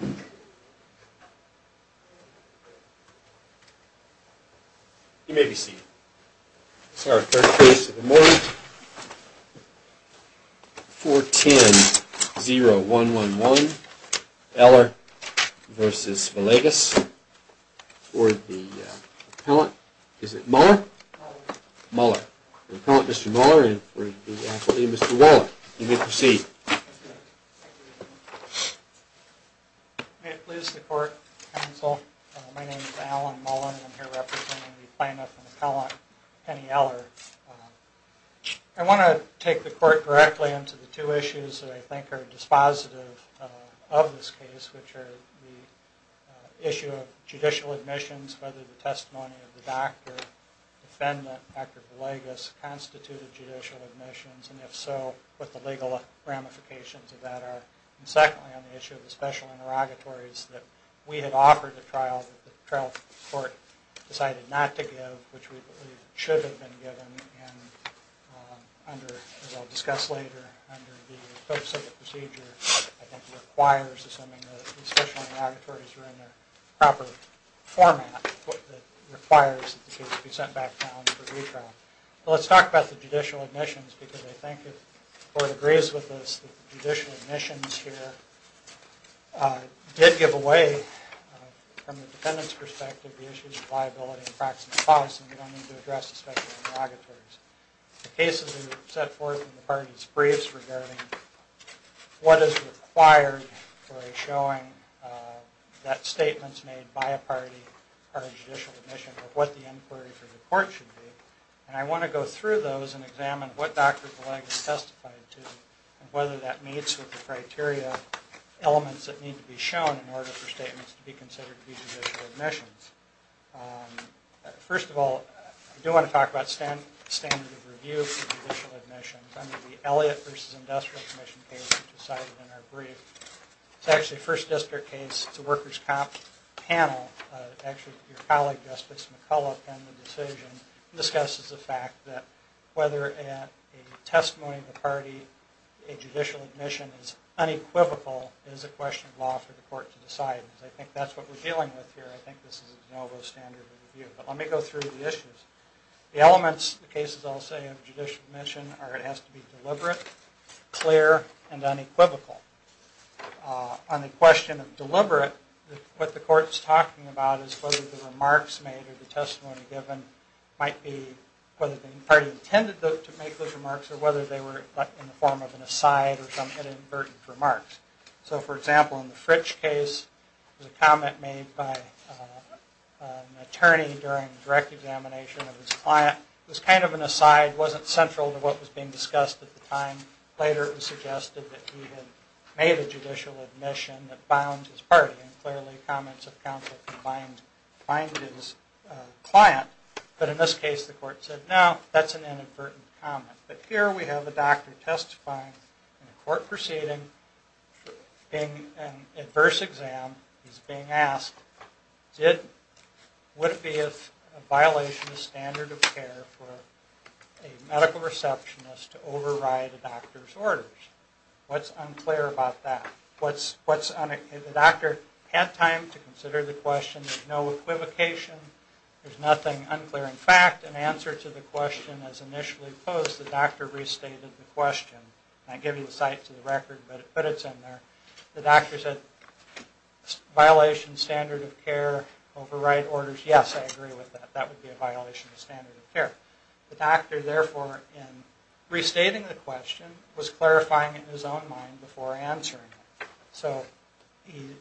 You may be seated. This is our first case of the morning. 4-10-0-1-1-1, Eller v. Villegas. For the appellant, is it Muller? Muller. Muller. For the appellant, Mr. Muller, and for the appellant, Mr. Waller. You may proceed. May it please the court, counsel. My name is Alan Muller, and I'm here representing the plaintiff and the appellant, Penny Eller. I want to take the court directly into the two issues that I think are dispositive of this case, which are the issue of judicial admissions, whether the testimony of the doctor, defendant, Dr. Villegas constituted judicial admissions, and if so, what the legal ramifications of that are. And secondly, on the issue of the special interrogatories that we had offered at trial, that the trial court decided not to give, which we believe should have been given, and under, as I'll discuss later, under the focus of the procedure, I think requires, assuming the special interrogatories are in their proper format, requires that the case be sent back down for retrial. Let's talk about the judicial admissions, because I think if the court agrees with this, that the judicial admissions here did give away, from the defendant's perspective, the issues of liability and practice of policy, and we don't need to address the special interrogatories. The cases that were set forth in the parties' briefs regarding what is required for a showing, that statements made by a party are judicial admissions, or what the inquiry for the court should be, and I want to go through those and examine what Dr. Villegas testified to, and whether that meets with the criteria elements that need to be shown in order for statements to be considered to be judicial admissions. First of all, I do want to talk about standard of review for judicial admissions. Under the Elliott v. Industrial Commission case, which was cited in our brief, it's actually a first district case, it's a workers' comp panel, actually your colleague Justice McCullough penned the decision, discusses the fact that whether a testimony of the party, a judicial admission is unequivocal, is a question of law for the court to decide, because I think that's what we're dealing with here. I think this is a de novo standard of review. But let me go through the issues. The elements, the cases I'll say, of judicial admission are it has to be deliberate, clear, and unequivocal. On the question of deliberate, what the court is talking about is whether the remarks made or the testimony given might be, whether the party intended to make those remarks or whether they were in the form of an aside or some inadvertent remarks. So, for example, in the Fritsch case, there was a comment made by an attorney during the direct examination of his client. It was kind of an aside, wasn't central to what was being discussed at the time. Later it was suggested that he had made a judicial admission that bound his party, and clearly comments of conflict blinded his client. But in this case, the court said, no, that's an inadvertent comment. But here we have a doctor testifying in a court proceeding, being an adverse exam. He's being asked, would it be a violation of standard of care for a medical receptionist to override a doctor's orders? What's unclear about that? What's unclear? The doctor had time to consider the question. There's no equivocation. There's nothing unclear. In fact, in answer to the question as initially posed, the doctor restated the question. I give you the site to the record, but it's in there. The doctor said, violation of standard of care, override orders. Yes, I agree with that. That would be a violation of standard of care. The doctor, therefore, in restating the question, was clarifying it in his own mind before answering it. So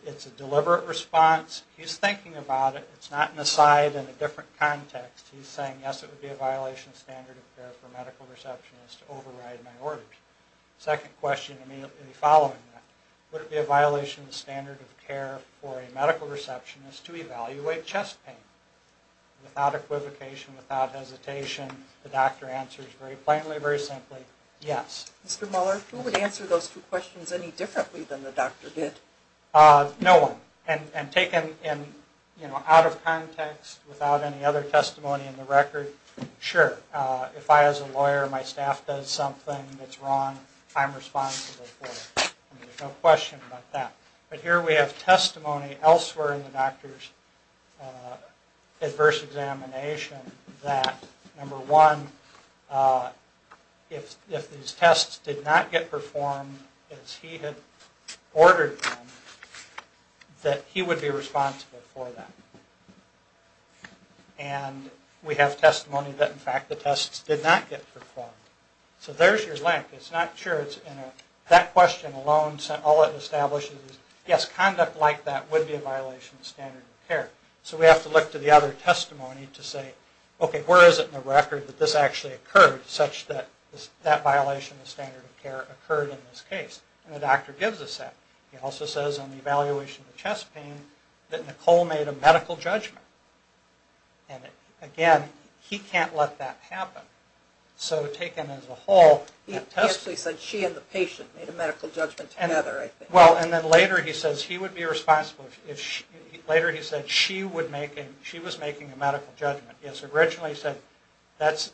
it's a deliberate response. He's thinking about it. It's not an aside in a different context. He's saying, yes, it would be a violation of standard of care for a medical receptionist to override my orders. Second question immediately following that, would it be a violation of standard of care for a medical receptionist to evaluate chest pain? Without equivocation, without hesitation, the doctor answers very plainly, very simply, yes. Mr. Muller, who would answer those two questions any differently than the doctor did? No one. And taken out of context, without any other testimony in the record, sure. If I, as a lawyer, my staff does something that's wrong, I'm responsible for it. There's no question about that. But here we have testimony elsewhere in the doctor's adverse examination that, number one, if these tests did not get performed as he had ordered them, that he would be responsible for that. And we have testimony that, in fact, the tests did not get performed. So there's your link. It's not sure it's in there. That question alone, all it establishes is, yes, conduct like that would be a violation of standard of care. So we have to look to the other testimony to say, okay, where is it in the record that this actually occurred, such that that violation of standard of care occurred in this case? And the doctor gives us that. He also says on the evaluation of the chest pain that Nicole made a medical judgment. And, again, he can't let that happen. So taken as a whole, that test... He actually said she and the patient made a medical judgment together, I think. Well, and then later he says he would be responsible if she... She was making a medical judgment. Yes, originally he said that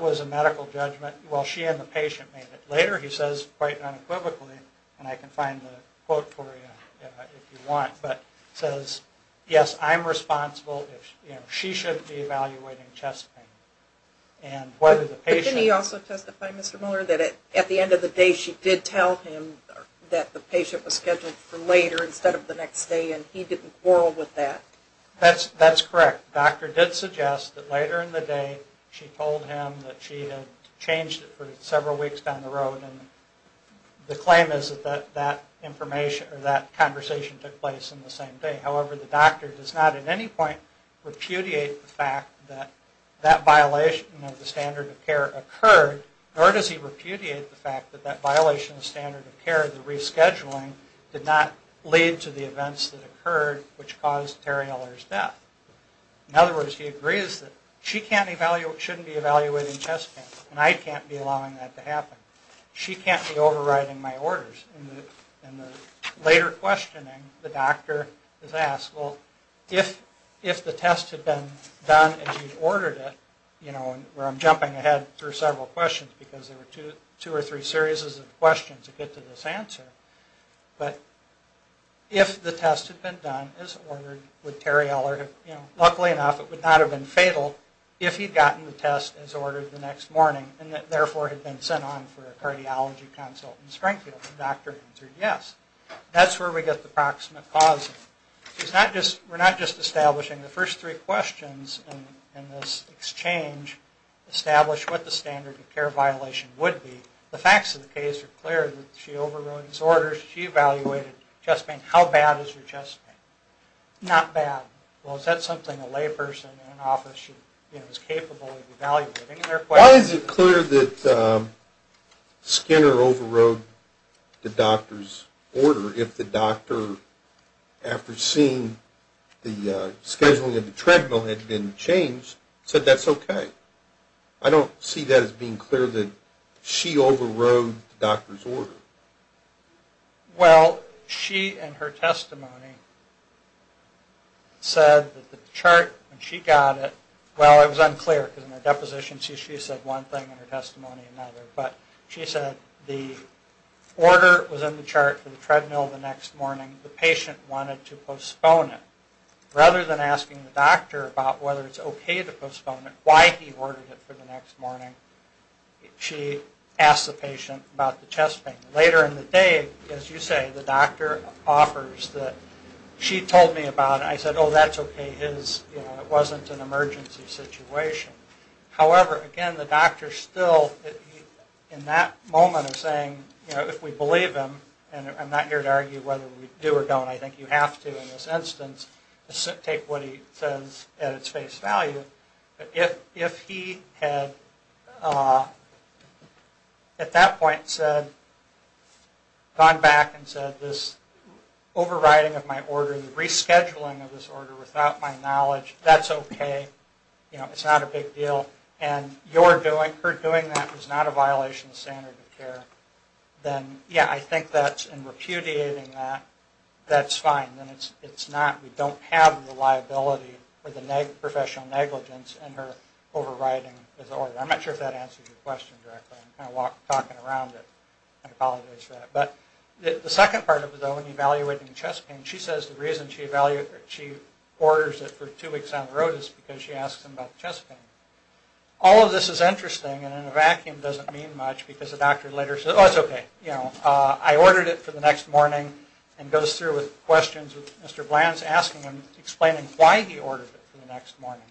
was a medical judgment. Well, she and the patient made it. Later he says, quite unequivocally, and I can find the quote for you if you want, but says, yes, I'm responsible if she shouldn't be evaluating chest pain. And whether the patient... But didn't he also testify, Mr. Miller, that at the end of the day she did tell him that the patient was scheduled for later instead of the next day and he didn't quarrel with that? That's correct. The doctor did suggest that later in the day she told him that she had changed it for several weeks down the road. And the claim is that that information or that conversation took place on the same day. However, the doctor does not at any point repudiate the fact that that violation of the standard of care occurred, nor does he repudiate the fact that that violation of standard of care, the rescheduling, did not lead to the events that occurred which caused Terri Eller's death. In other words, he agrees that she shouldn't be evaluating chest pain, and I can't be allowing that to happen. She can't be overriding my orders. In the later questioning, the doctor is asked, well, if the test had been done as you ordered it, you know, where I'm jumping ahead through several questions because there were two or three series of questions to get to this answer. But if the test had been done as ordered, would Terri Eller have, you know, luckily enough it would not have been fatal if he'd gotten the test as ordered the next morning and therefore had been sent on for a cardiology consult in Springfield. The doctor answered yes. That's where we get the proximate cause. We're not just establishing the first three questions in this exchange, establish what the standard of care violation would be. The facts of the case are clear. She overrode his orders. She evaluated chest pain. How bad is her chest pain? Not bad. Well, is that something a layperson in an office, you know, is capable of evaluating? Why is it clear that Skinner overrode the doctor's order if the doctor, after seeing the scheduling of the treadmill had been changed, said that's okay? I don't see that as being clear that she overrode the doctor's order. Well, she in her testimony said that the chart when she got it, well, it was unclear because in the deposition she said one thing and her testimony another. But she said the order was in the chart for the treadmill the next morning. The patient wanted to postpone it. Rather than asking the doctor about whether it's okay to postpone it, why he ordered it for the next morning, she asked the patient about the chest pain. Later in the day, as you say, the doctor offers that she told me about it. I said, oh, that's okay. It wasn't an emergency situation. However, again, the doctor still, in that moment of saying, you know, if we believe him, and I'm not here to argue whether we do or don't, I think you have to in this instance, take what he says at its face value. If he had at that point said, gone back and said this overriding of my order, the rescheduling of this order without my knowledge, that's okay. You know, it's not a big deal. And her doing that was not a violation of the standard of care, then, yeah, I think that's, in repudiating that, that's fine. It's not, we don't have the liability for the professional negligence in her overriding his order. I'm not sure if that answers your question directly. I'm kind of talking around it. I apologize for that. But the second part of it, though, in evaluating chest pain, she says the reason she orders it for two weeks on the road is because she asks him about chest pain. All of this is interesting, and in a vacuum doesn't mean much, because the doctor later says, oh, it's okay. You know, I ordered it for the next morning, and goes through with questions with Mr. Bland, asking him, explaining why he ordered it for the next morning.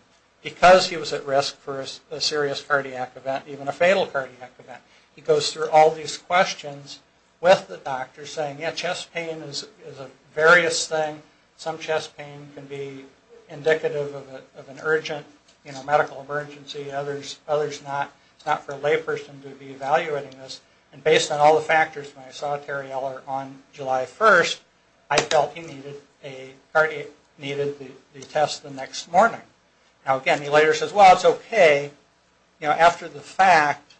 Because he was at risk for a serious cardiac event, even a fatal cardiac event. He goes through all these questions with the doctor, saying, yeah, chest pain is a various thing. Some chest pain can be indicative of an urgent, you know, medical emergency. Others not. It's not for a layperson to be evaluating this. And based on all the factors, when I saw Terry Eller on July 1st, I felt he needed the test the next morning. Now, again, he later says, well, it's okay. You know, after the fact,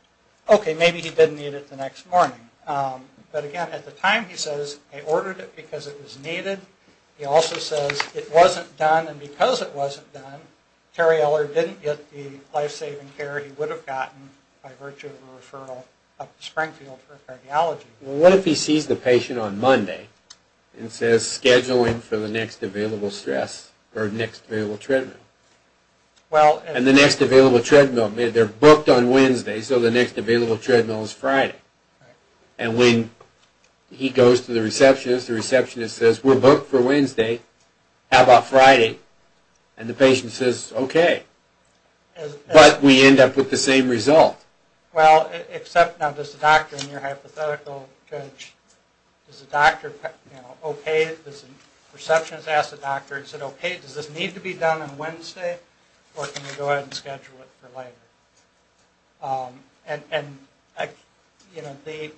okay, maybe he did need it the next morning. But, again, at the time, he says he ordered it because it was needed. He also says it wasn't done, and because it wasn't done, Terry Eller didn't get the life-saving care he would have gotten by virtue of a referral up to Springfield for a cardiology. Well, what if he sees the patient on Monday and says, scheduling for the next available stress or next available treadmill? And the next available treadmill, they're booked on Wednesday, so the next available treadmill is Friday. And when he goes to the receptionist, the receptionist says, we're booked for Wednesday. How about Friday? And the patient says, okay. But we end up with the same result. Well, except now, does the doctor in your hypothetical judge, does the doctor, you know, okay, does the receptionist ask the doctor, is it okay, does this need to be done on Wednesday, or can we go ahead and schedule it for later? And, you know, the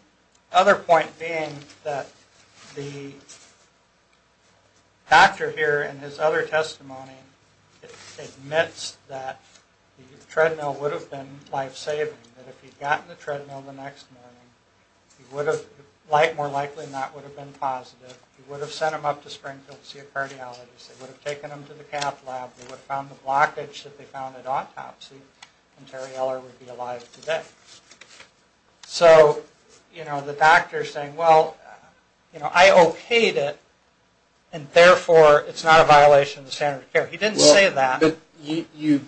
other point being that the doctor here in his other testimony admits that the treadmill would have been life-saving, that if he had gotten the treadmill the next morning, he would have, more likely than not, would have been positive. He would have sent him up to Springfield to see a cardiologist. They would have taken him to the cath lab. They would have found the blockage that they found at autopsy, and Terry Eller would be alive today. So, you know, the doctor is saying, well, you know, I okayed it, and therefore it's not a violation of the standard of care. He didn't say that. But you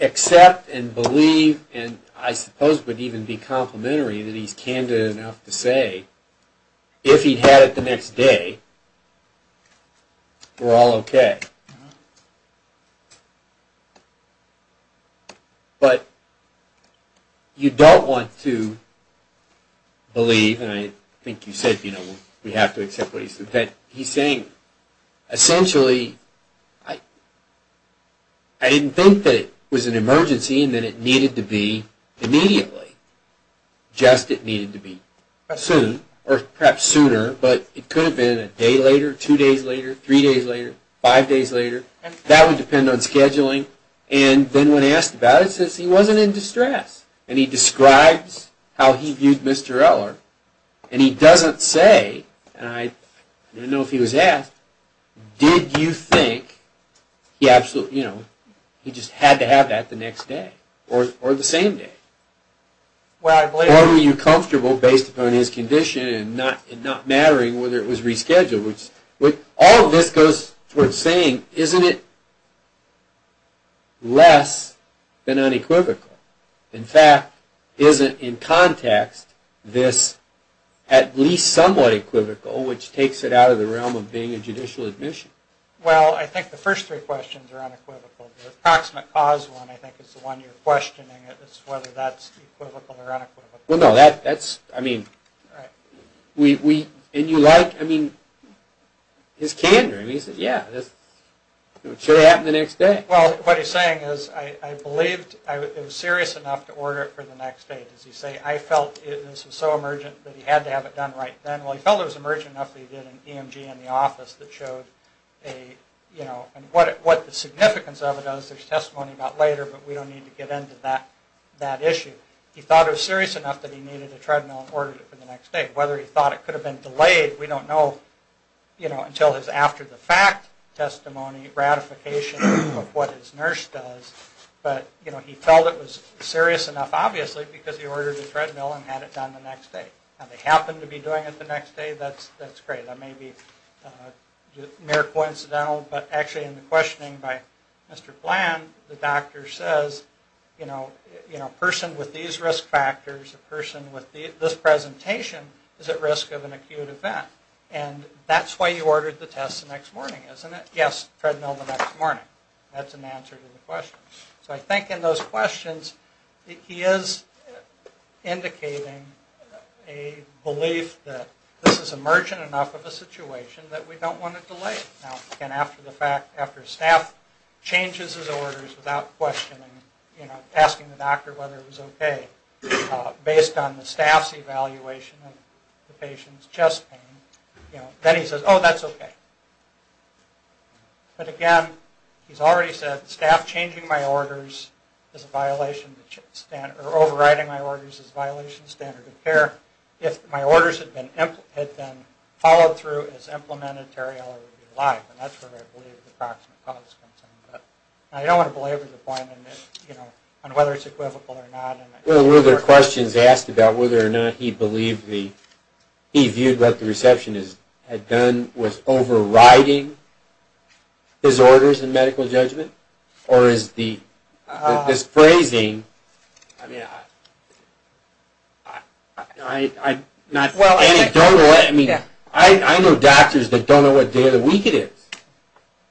accept and believe, and I suppose would even be complimentary that he's candid enough to say, if he had it the next day, we're all okay. But you don't want to believe, and I think you said, you know, we have to accept what he said, that he's saying, essentially, I didn't think that it was an emergency and that it needed to be immediately. Just it needed to be soon, or perhaps sooner, but it could have been a day later, two days later, three days later, five days later. That would depend on scheduling. And then when asked about it, it says he wasn't in distress, and he describes how he viewed Mr. Eller, and he doesn't say, and I don't know if he was asked, did you think he absolutely, you know, he just had to have that the next day, or the same day. Or were you comfortable, based upon his condition, and not mattering whether it was rescheduled. All of this goes towards saying, isn't it less than unequivocal? In fact, isn't, in context, this at least somewhat equivocal, which takes it out of the realm of being a judicial admission? Well, I think the first three questions are unequivocal. The approximate cause one, I think, is the one you're questioning. It's whether that's equivocal or unequivocal. Well, no, that's, I mean, we, and you like, I mean, his candor. I mean, he says, yeah, it should have happened the next day. Well, what he's saying is, I believed it was serious enough to order it for the next day. Does he say, I felt this was so emergent that he had to have it done right then? Well, he felt it was emergent enough that he did an EMG in the office that showed a, you know, and what the significance of it is, there's testimony about later, but we don't need to get into that issue. He thought it was serious enough that he needed a treadmill and ordered it for the next day. Whether he thought it could have been delayed, we don't know, you know, still his after-the-fact testimony, ratification of what his nurse does. But, you know, he felt it was serious enough, obviously, because he ordered the treadmill and had it done the next day. Now, they happen to be doing it the next day, that's great. That may be mere coincidental, but actually in the questioning by Mr. Bland, the doctor says, you know, a person with these risk factors, a person with this presentation is at risk of an acute event. And that's why you ordered the test the next morning, isn't it? Yes, treadmill the next morning. That's an answer to the question. So I think in those questions, he is indicating a belief that this is emergent enough of a situation that we don't want to delay it. Now, again, after the fact, after staff changes his orders without questioning, you know, asking the doctor whether it was okay, based on the staff's evaluation of the patient's chest pain, you know, then he says, oh, that's okay. But, again, he's already said staff changing my orders is a violation, or overriding my orders is a violation of standard of care. If my orders had been followed through as implemented, Terry Eller would be alive, and that's where I believe the proximate cause comes in. I don't want to belabor the point on whether it's equivocal or not. Well, were there questions asked about whether or not he viewed what the receptionist had done was overriding his orders in medical judgment? Or is this phrasing, I mean, I know doctors that don't know what day of the week it is.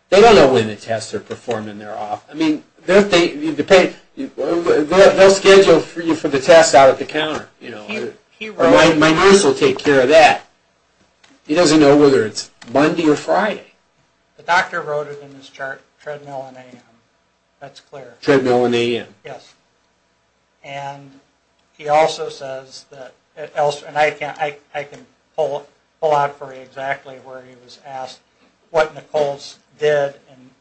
They don't know when the tests are performed and they're off. I mean, they'll schedule for you for the test out at the counter, you know, or my nurse will take care of that. He doesn't know whether it's Monday or Friday. The doctor wrote it in his chart, treadmill and AM. That's clear. Treadmill and AM. Yes. And he also says that, and I can pull out for you exactly where he was asked what Nichols did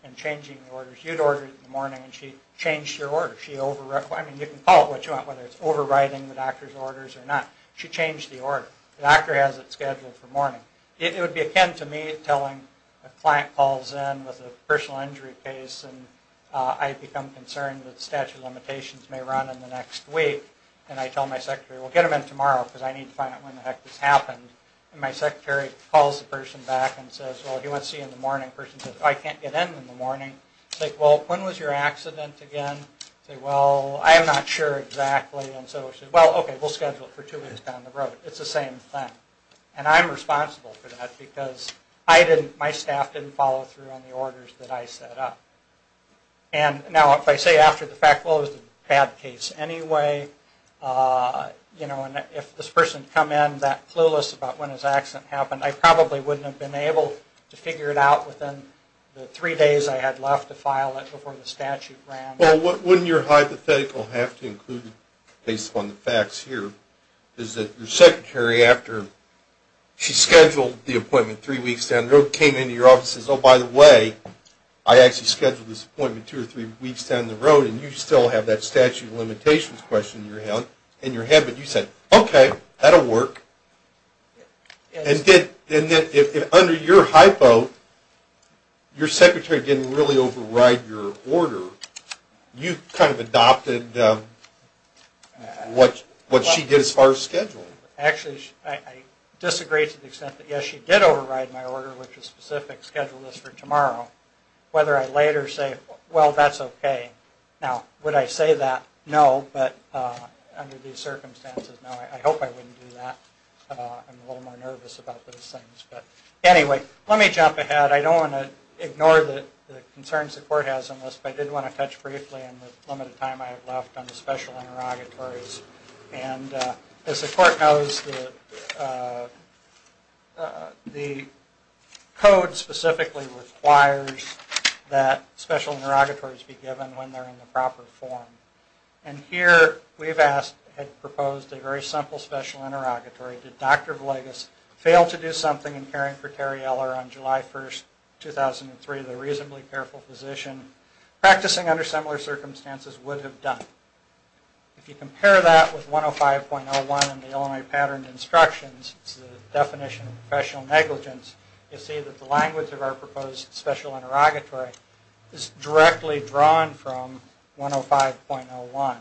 in changing the orders. You'd order it in the morning and she changed your order. I mean, you can call it what you want, whether it's overriding the doctor's orders or not. She changed the order. The doctor has it scheduled for morning. It would be akin to me telling a client calls in with a personal injury case and I become concerned that statute of limitations may run in the next week, and I tell my secretary, well, get them in tomorrow because I need to find out when the heck this happened. And my secretary calls the person back and says, well, he wants to see you in the morning. The person says, I can't get in in the morning. I say, well, when was your accident again? They say, well, I'm not sure exactly. And so she says, well, okay, we'll schedule it for two weeks down the road. It's the same thing. And I'm responsible for that because I didn't, my staff didn't follow through on the orders that I set up. And now if I say after the fact, well, it was a bad case anyway, you know, and if this person had come in that clueless about when his accident happened, I probably wouldn't have been able to figure it out within the three days I had left to file it before the statute ran. Well, wouldn't your hypothetical have to include based upon the facts here is that your secretary, after she scheduled the appointment three weeks down the road, came into your office and says, oh, by the way, I actually scheduled this appointment two or three weeks down the road, and you still have that statute of limitations question in your head. But you said, okay, that'll work. And then under your hypo, your secretary didn't really override your order. You kind of adopted what she did as far as scheduling. Actually, I disagree to the extent that, yes, she did override my order, which was specific, scheduled this for tomorrow. Whether I later say, well, that's okay. Now, would I say that? No, but under these circumstances, no. I hope I wouldn't do that. I'm a little more nervous about those things. But anyway, let me jump ahead. I don't want to ignore the concerns the court has on this, but I did want to touch briefly on the limited time I have left on the special interrogatories. And as the court knows, the code specifically requires that special interrogatories be given when they're in the proper form. And here we've asked, had proposed a very simple special interrogatory. Did Dr. Villegas fail to do something in caring for Terry Eller on July 1st, 2003, the reasonably careful physician? Practicing under similar circumstances would have done it. If you compare that with 105.01 in the Illinois Pattern of Instructions, it's the definition of professional negligence, you'll see that the language of our proposed special interrogatory is directly drawn from 105.01,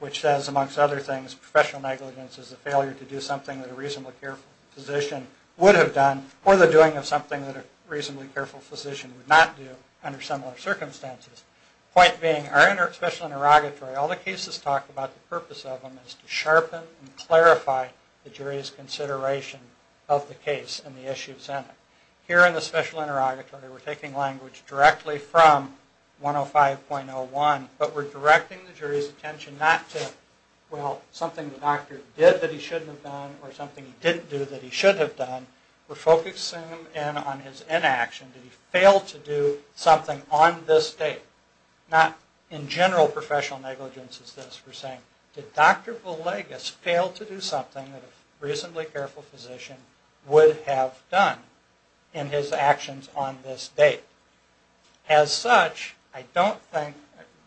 which says, amongst other things, professional negligence is the failure to do something that a reasonably careful physician would have done, or the doing of something that a reasonably careful physician would not do under similar circumstances. Point being, our special interrogatory, all the cases talk about the purpose of them is to sharpen and clarify the jury's consideration of the case and the issues in it. Here in the special interrogatory, we're taking language directly from 105.01, but we're directing the jury's attention not to, well, something the doctor did that he shouldn't have done, or something he didn't do that he should have done. We're focusing him in on his inaction. Did he fail to do something on this date? Not in general professional negligence as this. We're saying, did Dr. Villegas fail to do something that a reasonably careful physician would have done in his actions on this date? As such, I don't think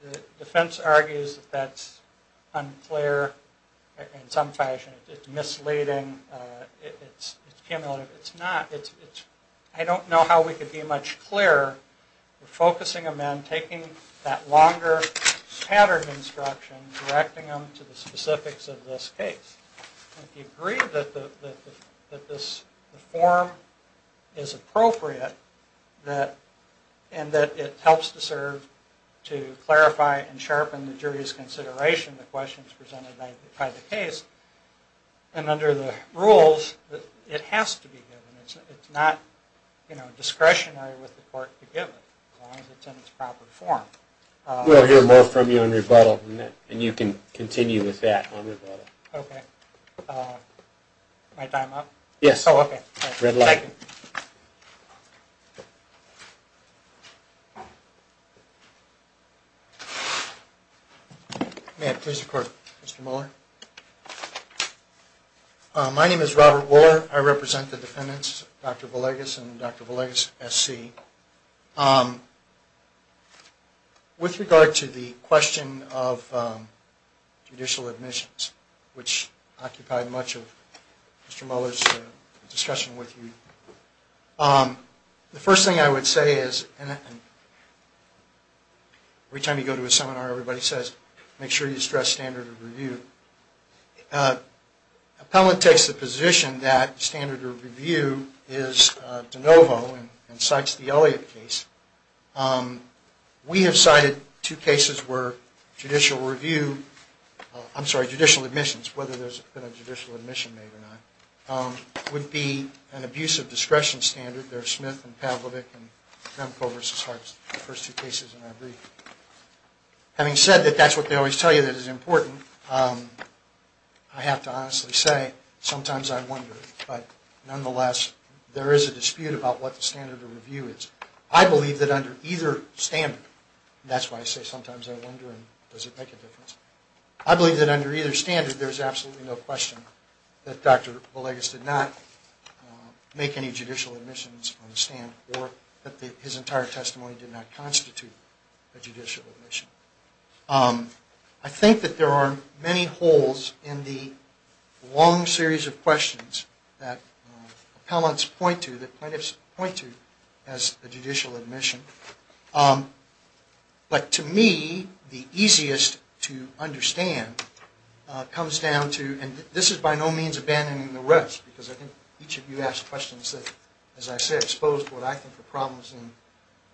the defense argues that that's unclear in some fashion. It's misleading. It's cumulative. It's not. I don't know how we could be much clearer. We're focusing him in, taking that longer patterned instruction, directing him to the specifics of this case. If you agree that this form is appropriate and that it helps to serve to clarify and sharpen the jury's consideration of the questions presented by the case, and under the rules, it has to be given. It's not discretionary with the court to give it as long as it's in its proper form. We'll hear more from you on rebuttal, and you can continue with that on rebuttal. Okay. My time up? Yes. Oh, okay. Red light. May I please record Mr. Muller? My name is Robert Muller. I represent the defendants, Dr. Villegas and Dr. Villegas, SC. With regard to the question of judicial admissions, which occupied much of Mr. Muller's discussion with you, the first thing I would say is, every time you go to a seminar, everybody says, make sure you stress standard of review. Appellant takes the position that standard of review is de novo and cites the Elliott case. We have cited two cases where judicial review, I'm sorry, judicial admissions, whether there's been a judicial admission made or not, would be an abuse of discretion standard. There's Smith and Pavlovic and Remko versus Hartz, the first two cases in our brief. Having said that, that's what they always tell you that is important. I have to honestly say, sometimes I wonder, but nonetheless there is a dispute about what the standard of review is. I believe that under either standard, and that's why I say sometimes I wonder and does it make a difference, I believe that under either standard there's absolutely no question that Dr. Villegas did not make any judicial admissions on the stand or that his entire testimony did not constitute a judicial admission. I think that there are many holes in the long series of questions that appellants point to, that plaintiffs point to as a judicial admission, but to me the easiest to understand comes down to, and this is by no means abandoning the rest, because I think each of you asked questions that, as I say, exposed what I think are problems in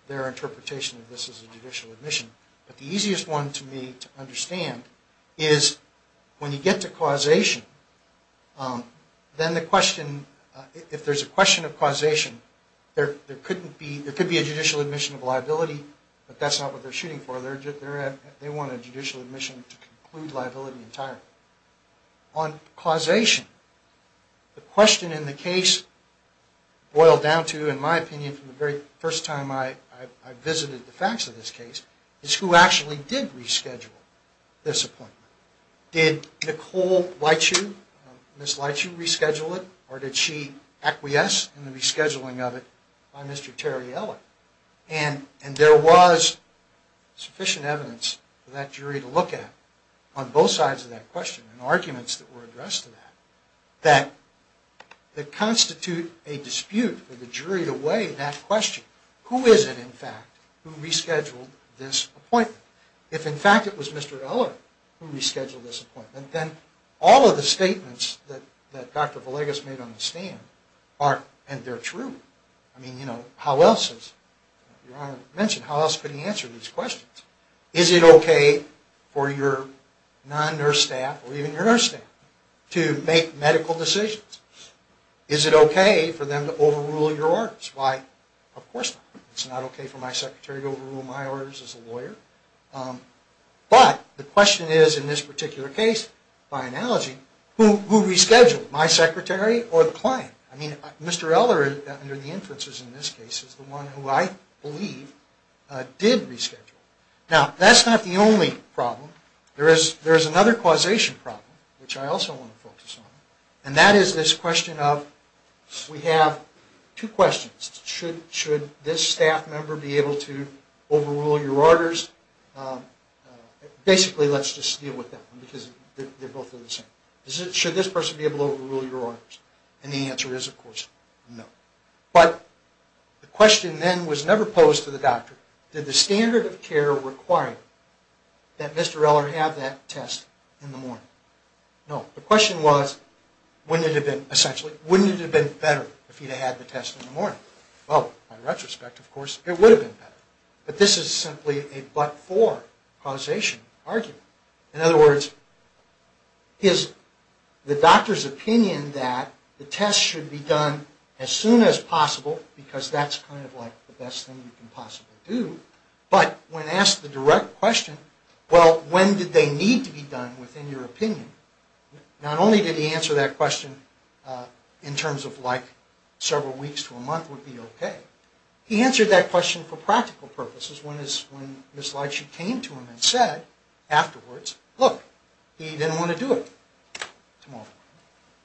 their interpretation of this as a judicial admission, but the easiest one to me to understand is when you get to causation, then the question, if there's a question of causation, there could be a judicial admission of liability, but that's not what they're shooting for, they want a judicial admission to conclude liability entirely. On causation, the question in the case boiled down to, in my opinion, from the very first time I visited the facts of this case, is who actually did reschedule this appointment. Did Nicole Leitchu, Ms. Leitchu, reschedule it, or did she acquiesce in the rescheduling of it by Mr. Terriella? And there was sufficient evidence for that jury to look at on both sides of that question, and arguments that were addressed to that, that constitute a dispute for the jury to weigh that question. Who is it, in fact, who rescheduled this appointment? If, in fact, it was Mr. Terriella who rescheduled this appointment, then all of the statements that Dr. Villegas made on the stand are, and they're true, I mean, you know, how else could he answer these questions? Is it okay for your non-nurse staff, or even your nurse staff, to make medical decisions? Is it okay for them to overrule your orders? Why, of course not. It's not okay for my secretary to overrule my orders as a lawyer. But the question is, in this particular case, by analogy, who rescheduled, my secretary or the client? I mean, Mr. Eller, under the inferences in this case, is the one who I believe did reschedule. Now, that's not the only problem. There is another causation problem, which I also want to focus on, and that is this question of, we have two questions. Should this staff member be able to overrule your orders? Basically, let's just deal with that one, because they're both the same. Should this person be able to overrule your orders? And the answer is, of course, no. But the question then was never posed to the doctor, did the standard of care require that Mr. Eller have that test in the morning? No. The question was, wouldn't it have been, essentially, wouldn't it have been better if he'd had the test in the morning? Well, by retrospect, of course, it would have been better. But this is simply a but-for causation argument. In other words, is the doctor's opinion that the test should be done as soon as possible, because that's kind of like the best thing you can possibly do, but when asked the direct question, well, when did they need to be done, within your opinion? Not only did he answer that question in terms of, like, several weeks to a month would be okay. He answered that question for practical purposes, when Ms. Leitchuk came to him and said afterwards, look, he didn't want to do it tomorrow.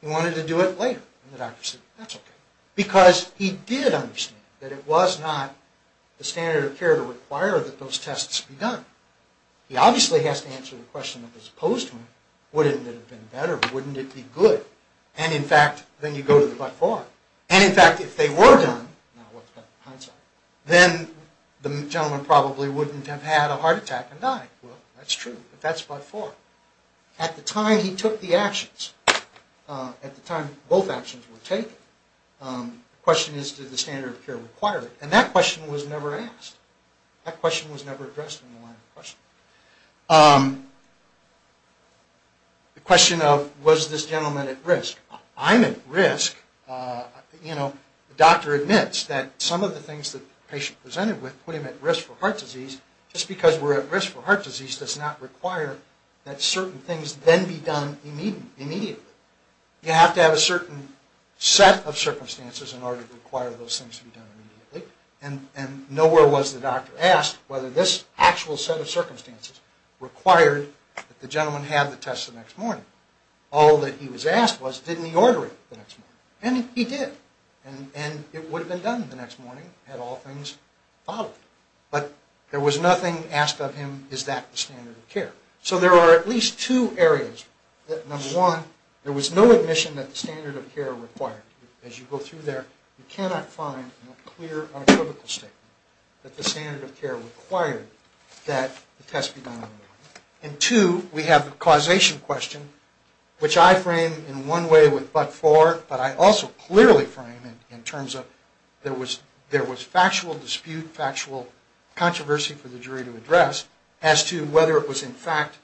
He wanted to do it later. And the doctor said, that's okay. Because he did understand that it was not the standard of care to require that those tests be done. He obviously has to answer the question that was posed to him, wouldn't it have been better, wouldn't it be good? And, in fact, then you go to the but-for. And, in fact, if they were done, now what's the concept? Well, then the gentleman probably wouldn't have had a heart attack and died. Well, that's true, but that's but-for. At the time he took the actions, at the time both actions were taken, the question is, did the standard of care require it? And that question was never asked. That question was never addressed in the line of question. The question of, was this gentleman at risk? I'm at risk. You know, the doctor admits that some of the things that the patient presented with put him at risk for heart disease. Just because we're at risk for heart disease does not require that certain things then be done immediately. You have to have a certain set of circumstances in order to require those things to be done immediately. And nowhere was the doctor asked whether this actual set of circumstances required that the gentleman have the test the next morning. All that he was asked was, didn't he order it the next morning? And he did. And it would have been done the next morning had all things followed. But there was nothing asked of him, is that the standard of care? So there are at least two areas. Number one, there was no admission that the standard of care required it. As you go through there, you cannot find a clear, unequivocal statement that the standard of care required that the test be done immediately. And two, we have the causation question, which I frame in one way with but for, but I also clearly frame it in terms of there was factual dispute, factual controversy for the jury to address as to whether it was in fact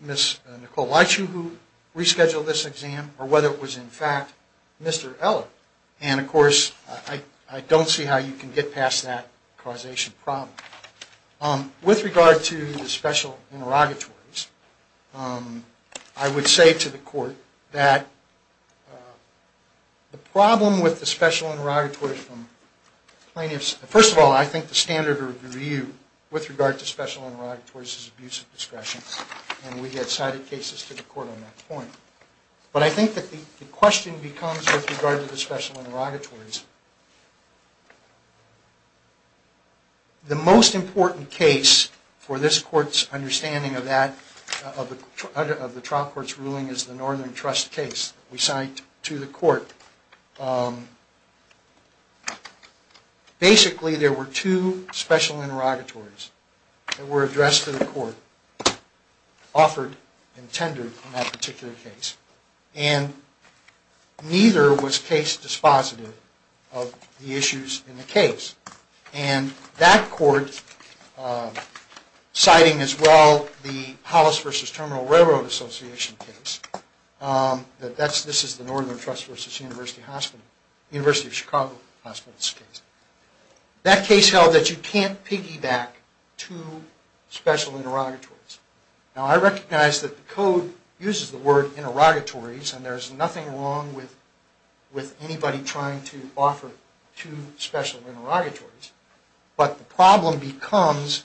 Ms. Nicole Leitschuh who rescheduled this exam or whether it was in fact Mr. Eller. And of course, I don't see how you can get past that causation problem. With regard to the special interrogatories, I would say to the court that the problem with the special interrogatories from plaintiffs, first of all, I think the standard of review with regard to special interrogatories is abuse of discretion. And we had cited cases to the court on that point. But I think that the question becomes with regard to the special interrogatories, the most important case for this court's understanding of the trial court's ruling is the Northern Trust case we cite to the court. Basically, there were two special interrogatories that were addressed to the court, offered and tendered in that particular case. And neither was case dispositive of the issues in the case. And that court, citing as well the Hollis v. Terminal Railroad Association case, that this is the Northern Trust v. University Hospital, University of Chicago Hospital's case, that case held that you can't piggyback two special interrogatories. Now, I recognize that the code uses the word interrogatories, and there's nothing wrong with anybody trying to offer two special interrogatories. But the problem becomes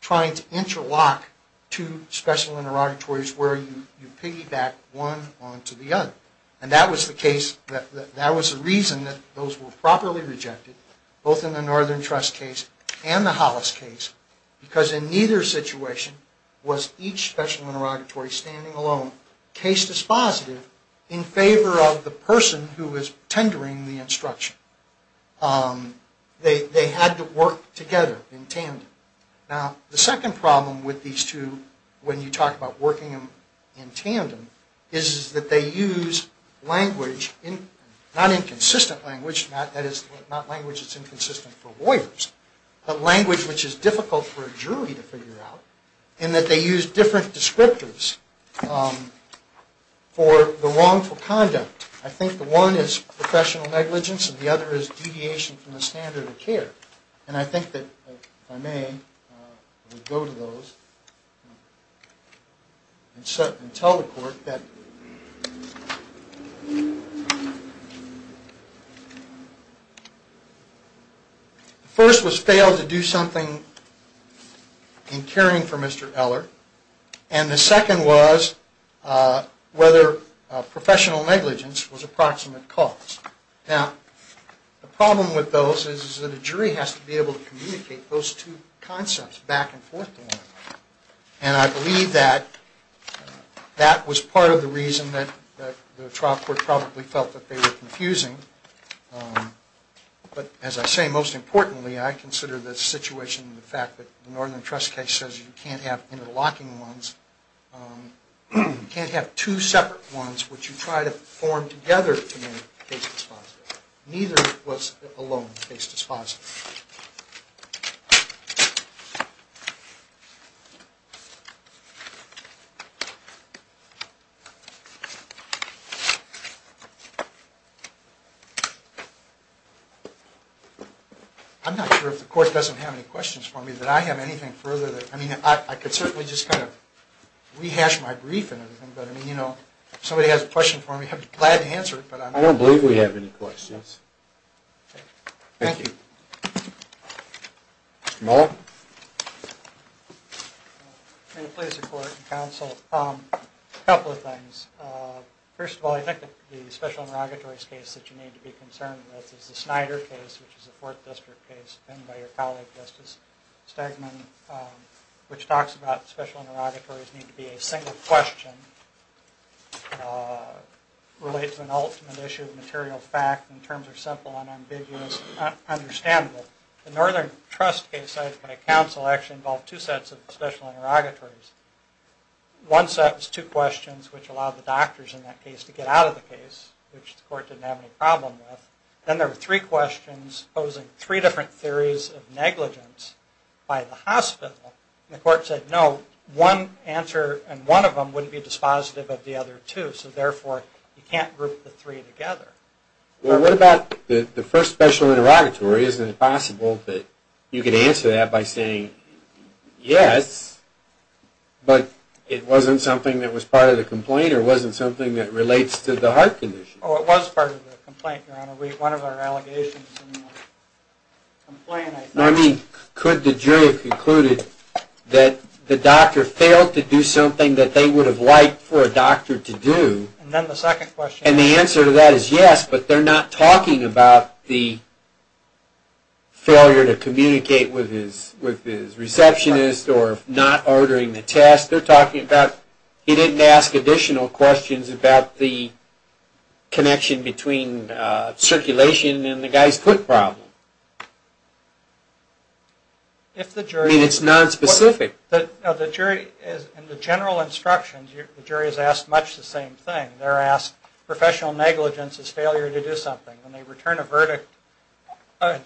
trying to interlock two special interrogatories where you piggyback one onto the other. And that was the reason that those were properly rejected, both in the Northern Trust case and the Hollis case, because in neither situation was each special interrogatory standing alone, case dispositive, in favor of the person who was tendering the instruction. They had to work together in tandem. Now, the second problem with these two, when you talk about working in tandem, is that they use language, not inconsistent language, that is, not language that's inconsistent for lawyers, but language which is difficult for a jury to figure out, in that they use different descriptors for the wrongful conduct. I think the one is professional negligence, and the other is deviation from the standard of care. And I think that, if I may, I will go to those and tell the court that the first was fail to do something in caring for Mr. Eller, and the second was whether professional negligence was approximate cause. Now, the problem with those is that a jury has to be able to communicate those two concepts back and forth. And I believe that that was part of the reason that the trial court probably felt that they were confusing. But, as I say, most importantly, I consider the situation, the fact that the Northern Trust case says you can't have interlocking ones, you can't have two separate ones which you try to form together to make the case dispositive. Neither was alone case dispositive. I'm not sure if the court doesn't have any questions for me. Did I have anything further? I mean, I could certainly just kind of rehash my brief and everything. But, I mean, you know, if somebody has a question for me, I'd be glad to answer it. I don't believe we have any questions. Thank you. Mr. Muller? In the place of court and counsel, a couple of things. First of all, I think that the special inrogatories case that you need to be concerned with is the Snyder case, which is a Fourth District case, penned by your colleague Justice Stegman, which talks about special inrogatories need to be a single question, relate to an ultimate issue of material fact in terms of simple and ambiguous, understandable. The Northern Trust case, I think, by counsel actually involved two sets of special inrogatories. One set was two questions which allowed the doctors in that case to get out of the case, which the court didn't have any problem with. Then there were three questions posing three different theories of negligence by the hospital, and the court said no, one answer in one of them wouldn't be dispositive of the other two, so therefore you can't group the three together. Well, what about the first special inrogatory? Isn't it possible that you could answer that by saying yes, but it wasn't something that was part of the complaint or wasn't something that relates to the heart condition? Oh, it was part of the complaint, Your Honor. One of our allegations in the complaint, I think. I mean, could the jury have concluded that the doctor failed to do something that they would have liked for a doctor to do? And then the second question. And the answer to that is yes, but they're not talking about the failure to communicate with his receptionist or not ordering the test. They're talking about he didn't ask additional questions about the connection between circulation and the guy's foot problem. I mean, it's nonspecific. In the general instructions, the jury is asked much the same thing. They're asked professional negligence is failure to do something. When they return a verdict, a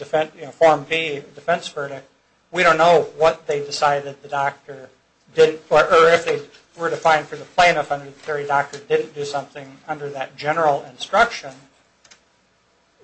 Form B defense verdict, we don't know what they decided the doctor didn't, or if they were to find for the plaintiff under the jury, the doctor didn't do something under that general instruction.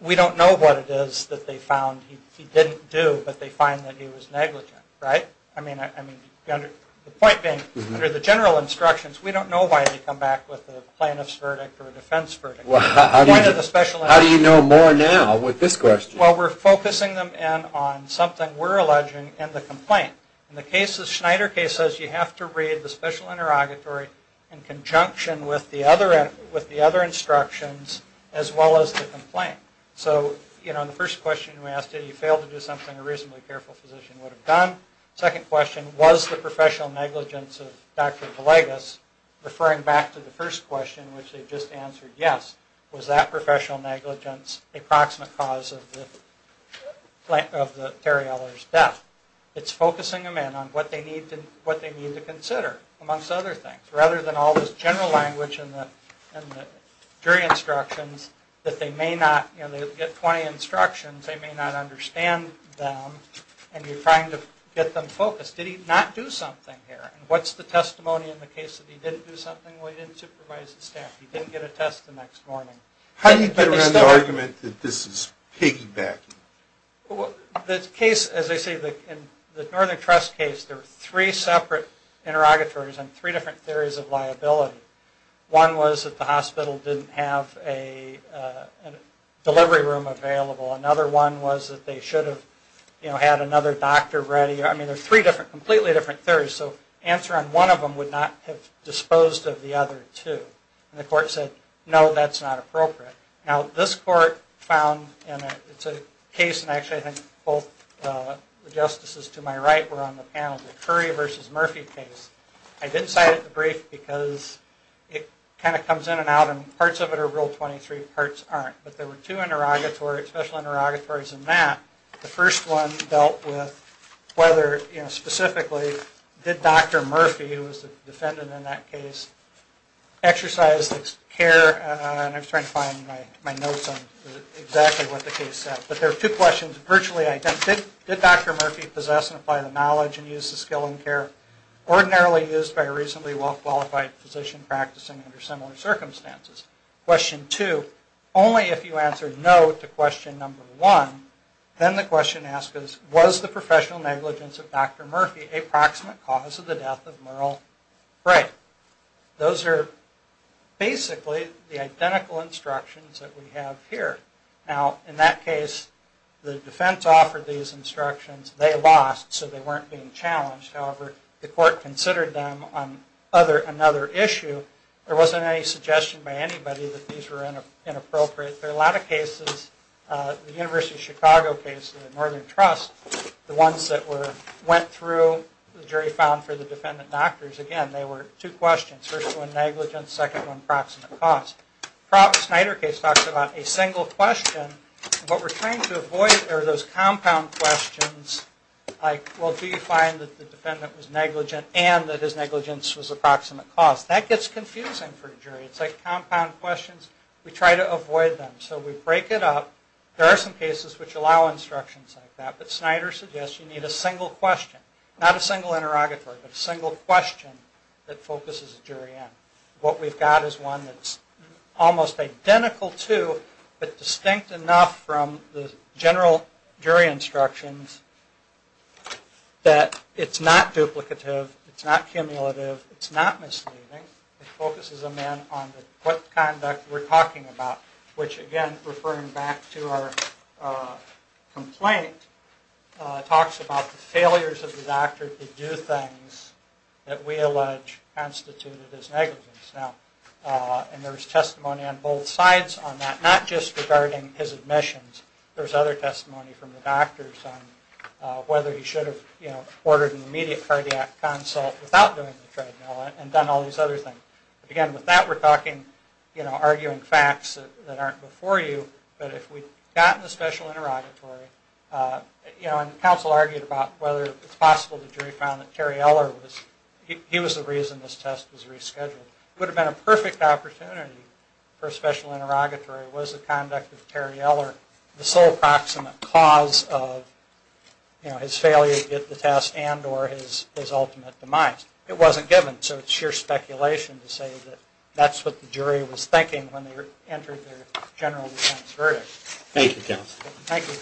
We don't know what it is that they found he didn't do, but they find that he was negligent, right? I mean, the point being, under the general instructions, we don't know why they come back with a plaintiff's verdict or a defense verdict. How do you know more now with this question? Well, we're focusing them in on something we're alleging in the complaint. In the cases, Schneider case says you have to read the special interrogatory in conjunction with the other instructions as well as the complaint. So, you know, the first question we asked, did he fail to do something a reasonably careful physician would have done? Second question, was the professional negligence of Dr. DeLagos, referring back to the first question, which they just answered yes, was that professional negligence a proximate cause of Terry Eller's death? It's focusing them in on what they need to consider, amongst other things, rather than all this general language in the jury instructions that they may not, you know, they get 20 instructions, they may not understand them, and you're trying to get them focused. Did he not do something here? And what's the testimony in the case that he did do something? Well, he didn't supervise the staff. He didn't get a test the next morning. How do you get around the argument that this is piggybacking? The case, as I say, the Northern Trust case, there were three separate interrogatories on three different theories of liability. One was that the hospital didn't have a delivery room available. Another one was that they should have, you know, had another doctor ready. I mean, there's three different, completely different theories. So the answer on one of them would not have disposed of the other two. And the court said, no, that's not appropriate. Now, this court found, and it's a case, and actually I think both the justices to my right were on the panel, the Curry v. Murphy case. I did cite it in the brief because it kind of comes in and out, and parts of it are Rule 23, parts aren't. But there were two interrogatories, special interrogatories, and that the first one dealt with whether, you know, specifically did Dr. Murphy, who was the defendant in that case, exercise care, and I'm trying to find my notes on exactly what the case said. But there were two questions virtually identical. Did Dr. Murphy possess and apply the knowledge and use the skill and care ordinarily used by a reasonably well-qualified physician practicing under similar circumstances? Question two, only if you answer no to question number one, then the question asks, was the professional negligence of Dr. Murphy a proximate cause of the death of Merle Bray? Those are basically the identical instructions that we have here. Now, in that case, the defense offered these instructions. They lost, so they weren't being challenged. However, the court considered them on another issue. There wasn't any suggestion by anybody that these were inappropriate. There are a lot of cases, the University of Chicago case, the Northern Trust, the ones that went through the jury found for the defendant doctors, again, they were two questions, first one negligence, second one proximate cause. The Snyder case talks about a single question, but we're trying to avoid those compound questions like, well, do you find that the defendant was negligent and that his negligence was a proximate cause? That gets confusing for a jury. It's like compound questions. We try to avoid them. So we break it up. There are some cases which allow instructions like that, but Snyder suggests you need a single question, not a single interrogatory, but a single question that focuses a jury in. What we've got is one that's almost identical to, but distinct enough from the general jury instructions that it's not duplicative, it's not cumulative, it's not misleading. It focuses a man on what conduct we're talking about, which again, referring back to our complaint, talks about the failures of the doctor to do things that we allege constituted as negligence. And there's testimony on both sides on that, not just regarding his admissions. There's other testimony from the doctors on whether he should have, you know, ordered an immediate cardiac consult without doing the treadmill and done all these other things. But again, with that we're talking, you know, arguing facts that aren't before you, but if we'd gotten the special interrogatory, you know, and the counsel argued about whether it's possible the jury found that Terry Eller was, he was the reason this test was rescheduled. It would have been a perfect opportunity for a special interrogatory, was the conduct of Terry Eller the sole proximate cause of, you know, his failure to get the test and or his ultimate demise. It wasn't given, so it's sheer speculation to say that that's what the jury was thinking when they entered their general defense verdict. Thank you, counsel. Thank you.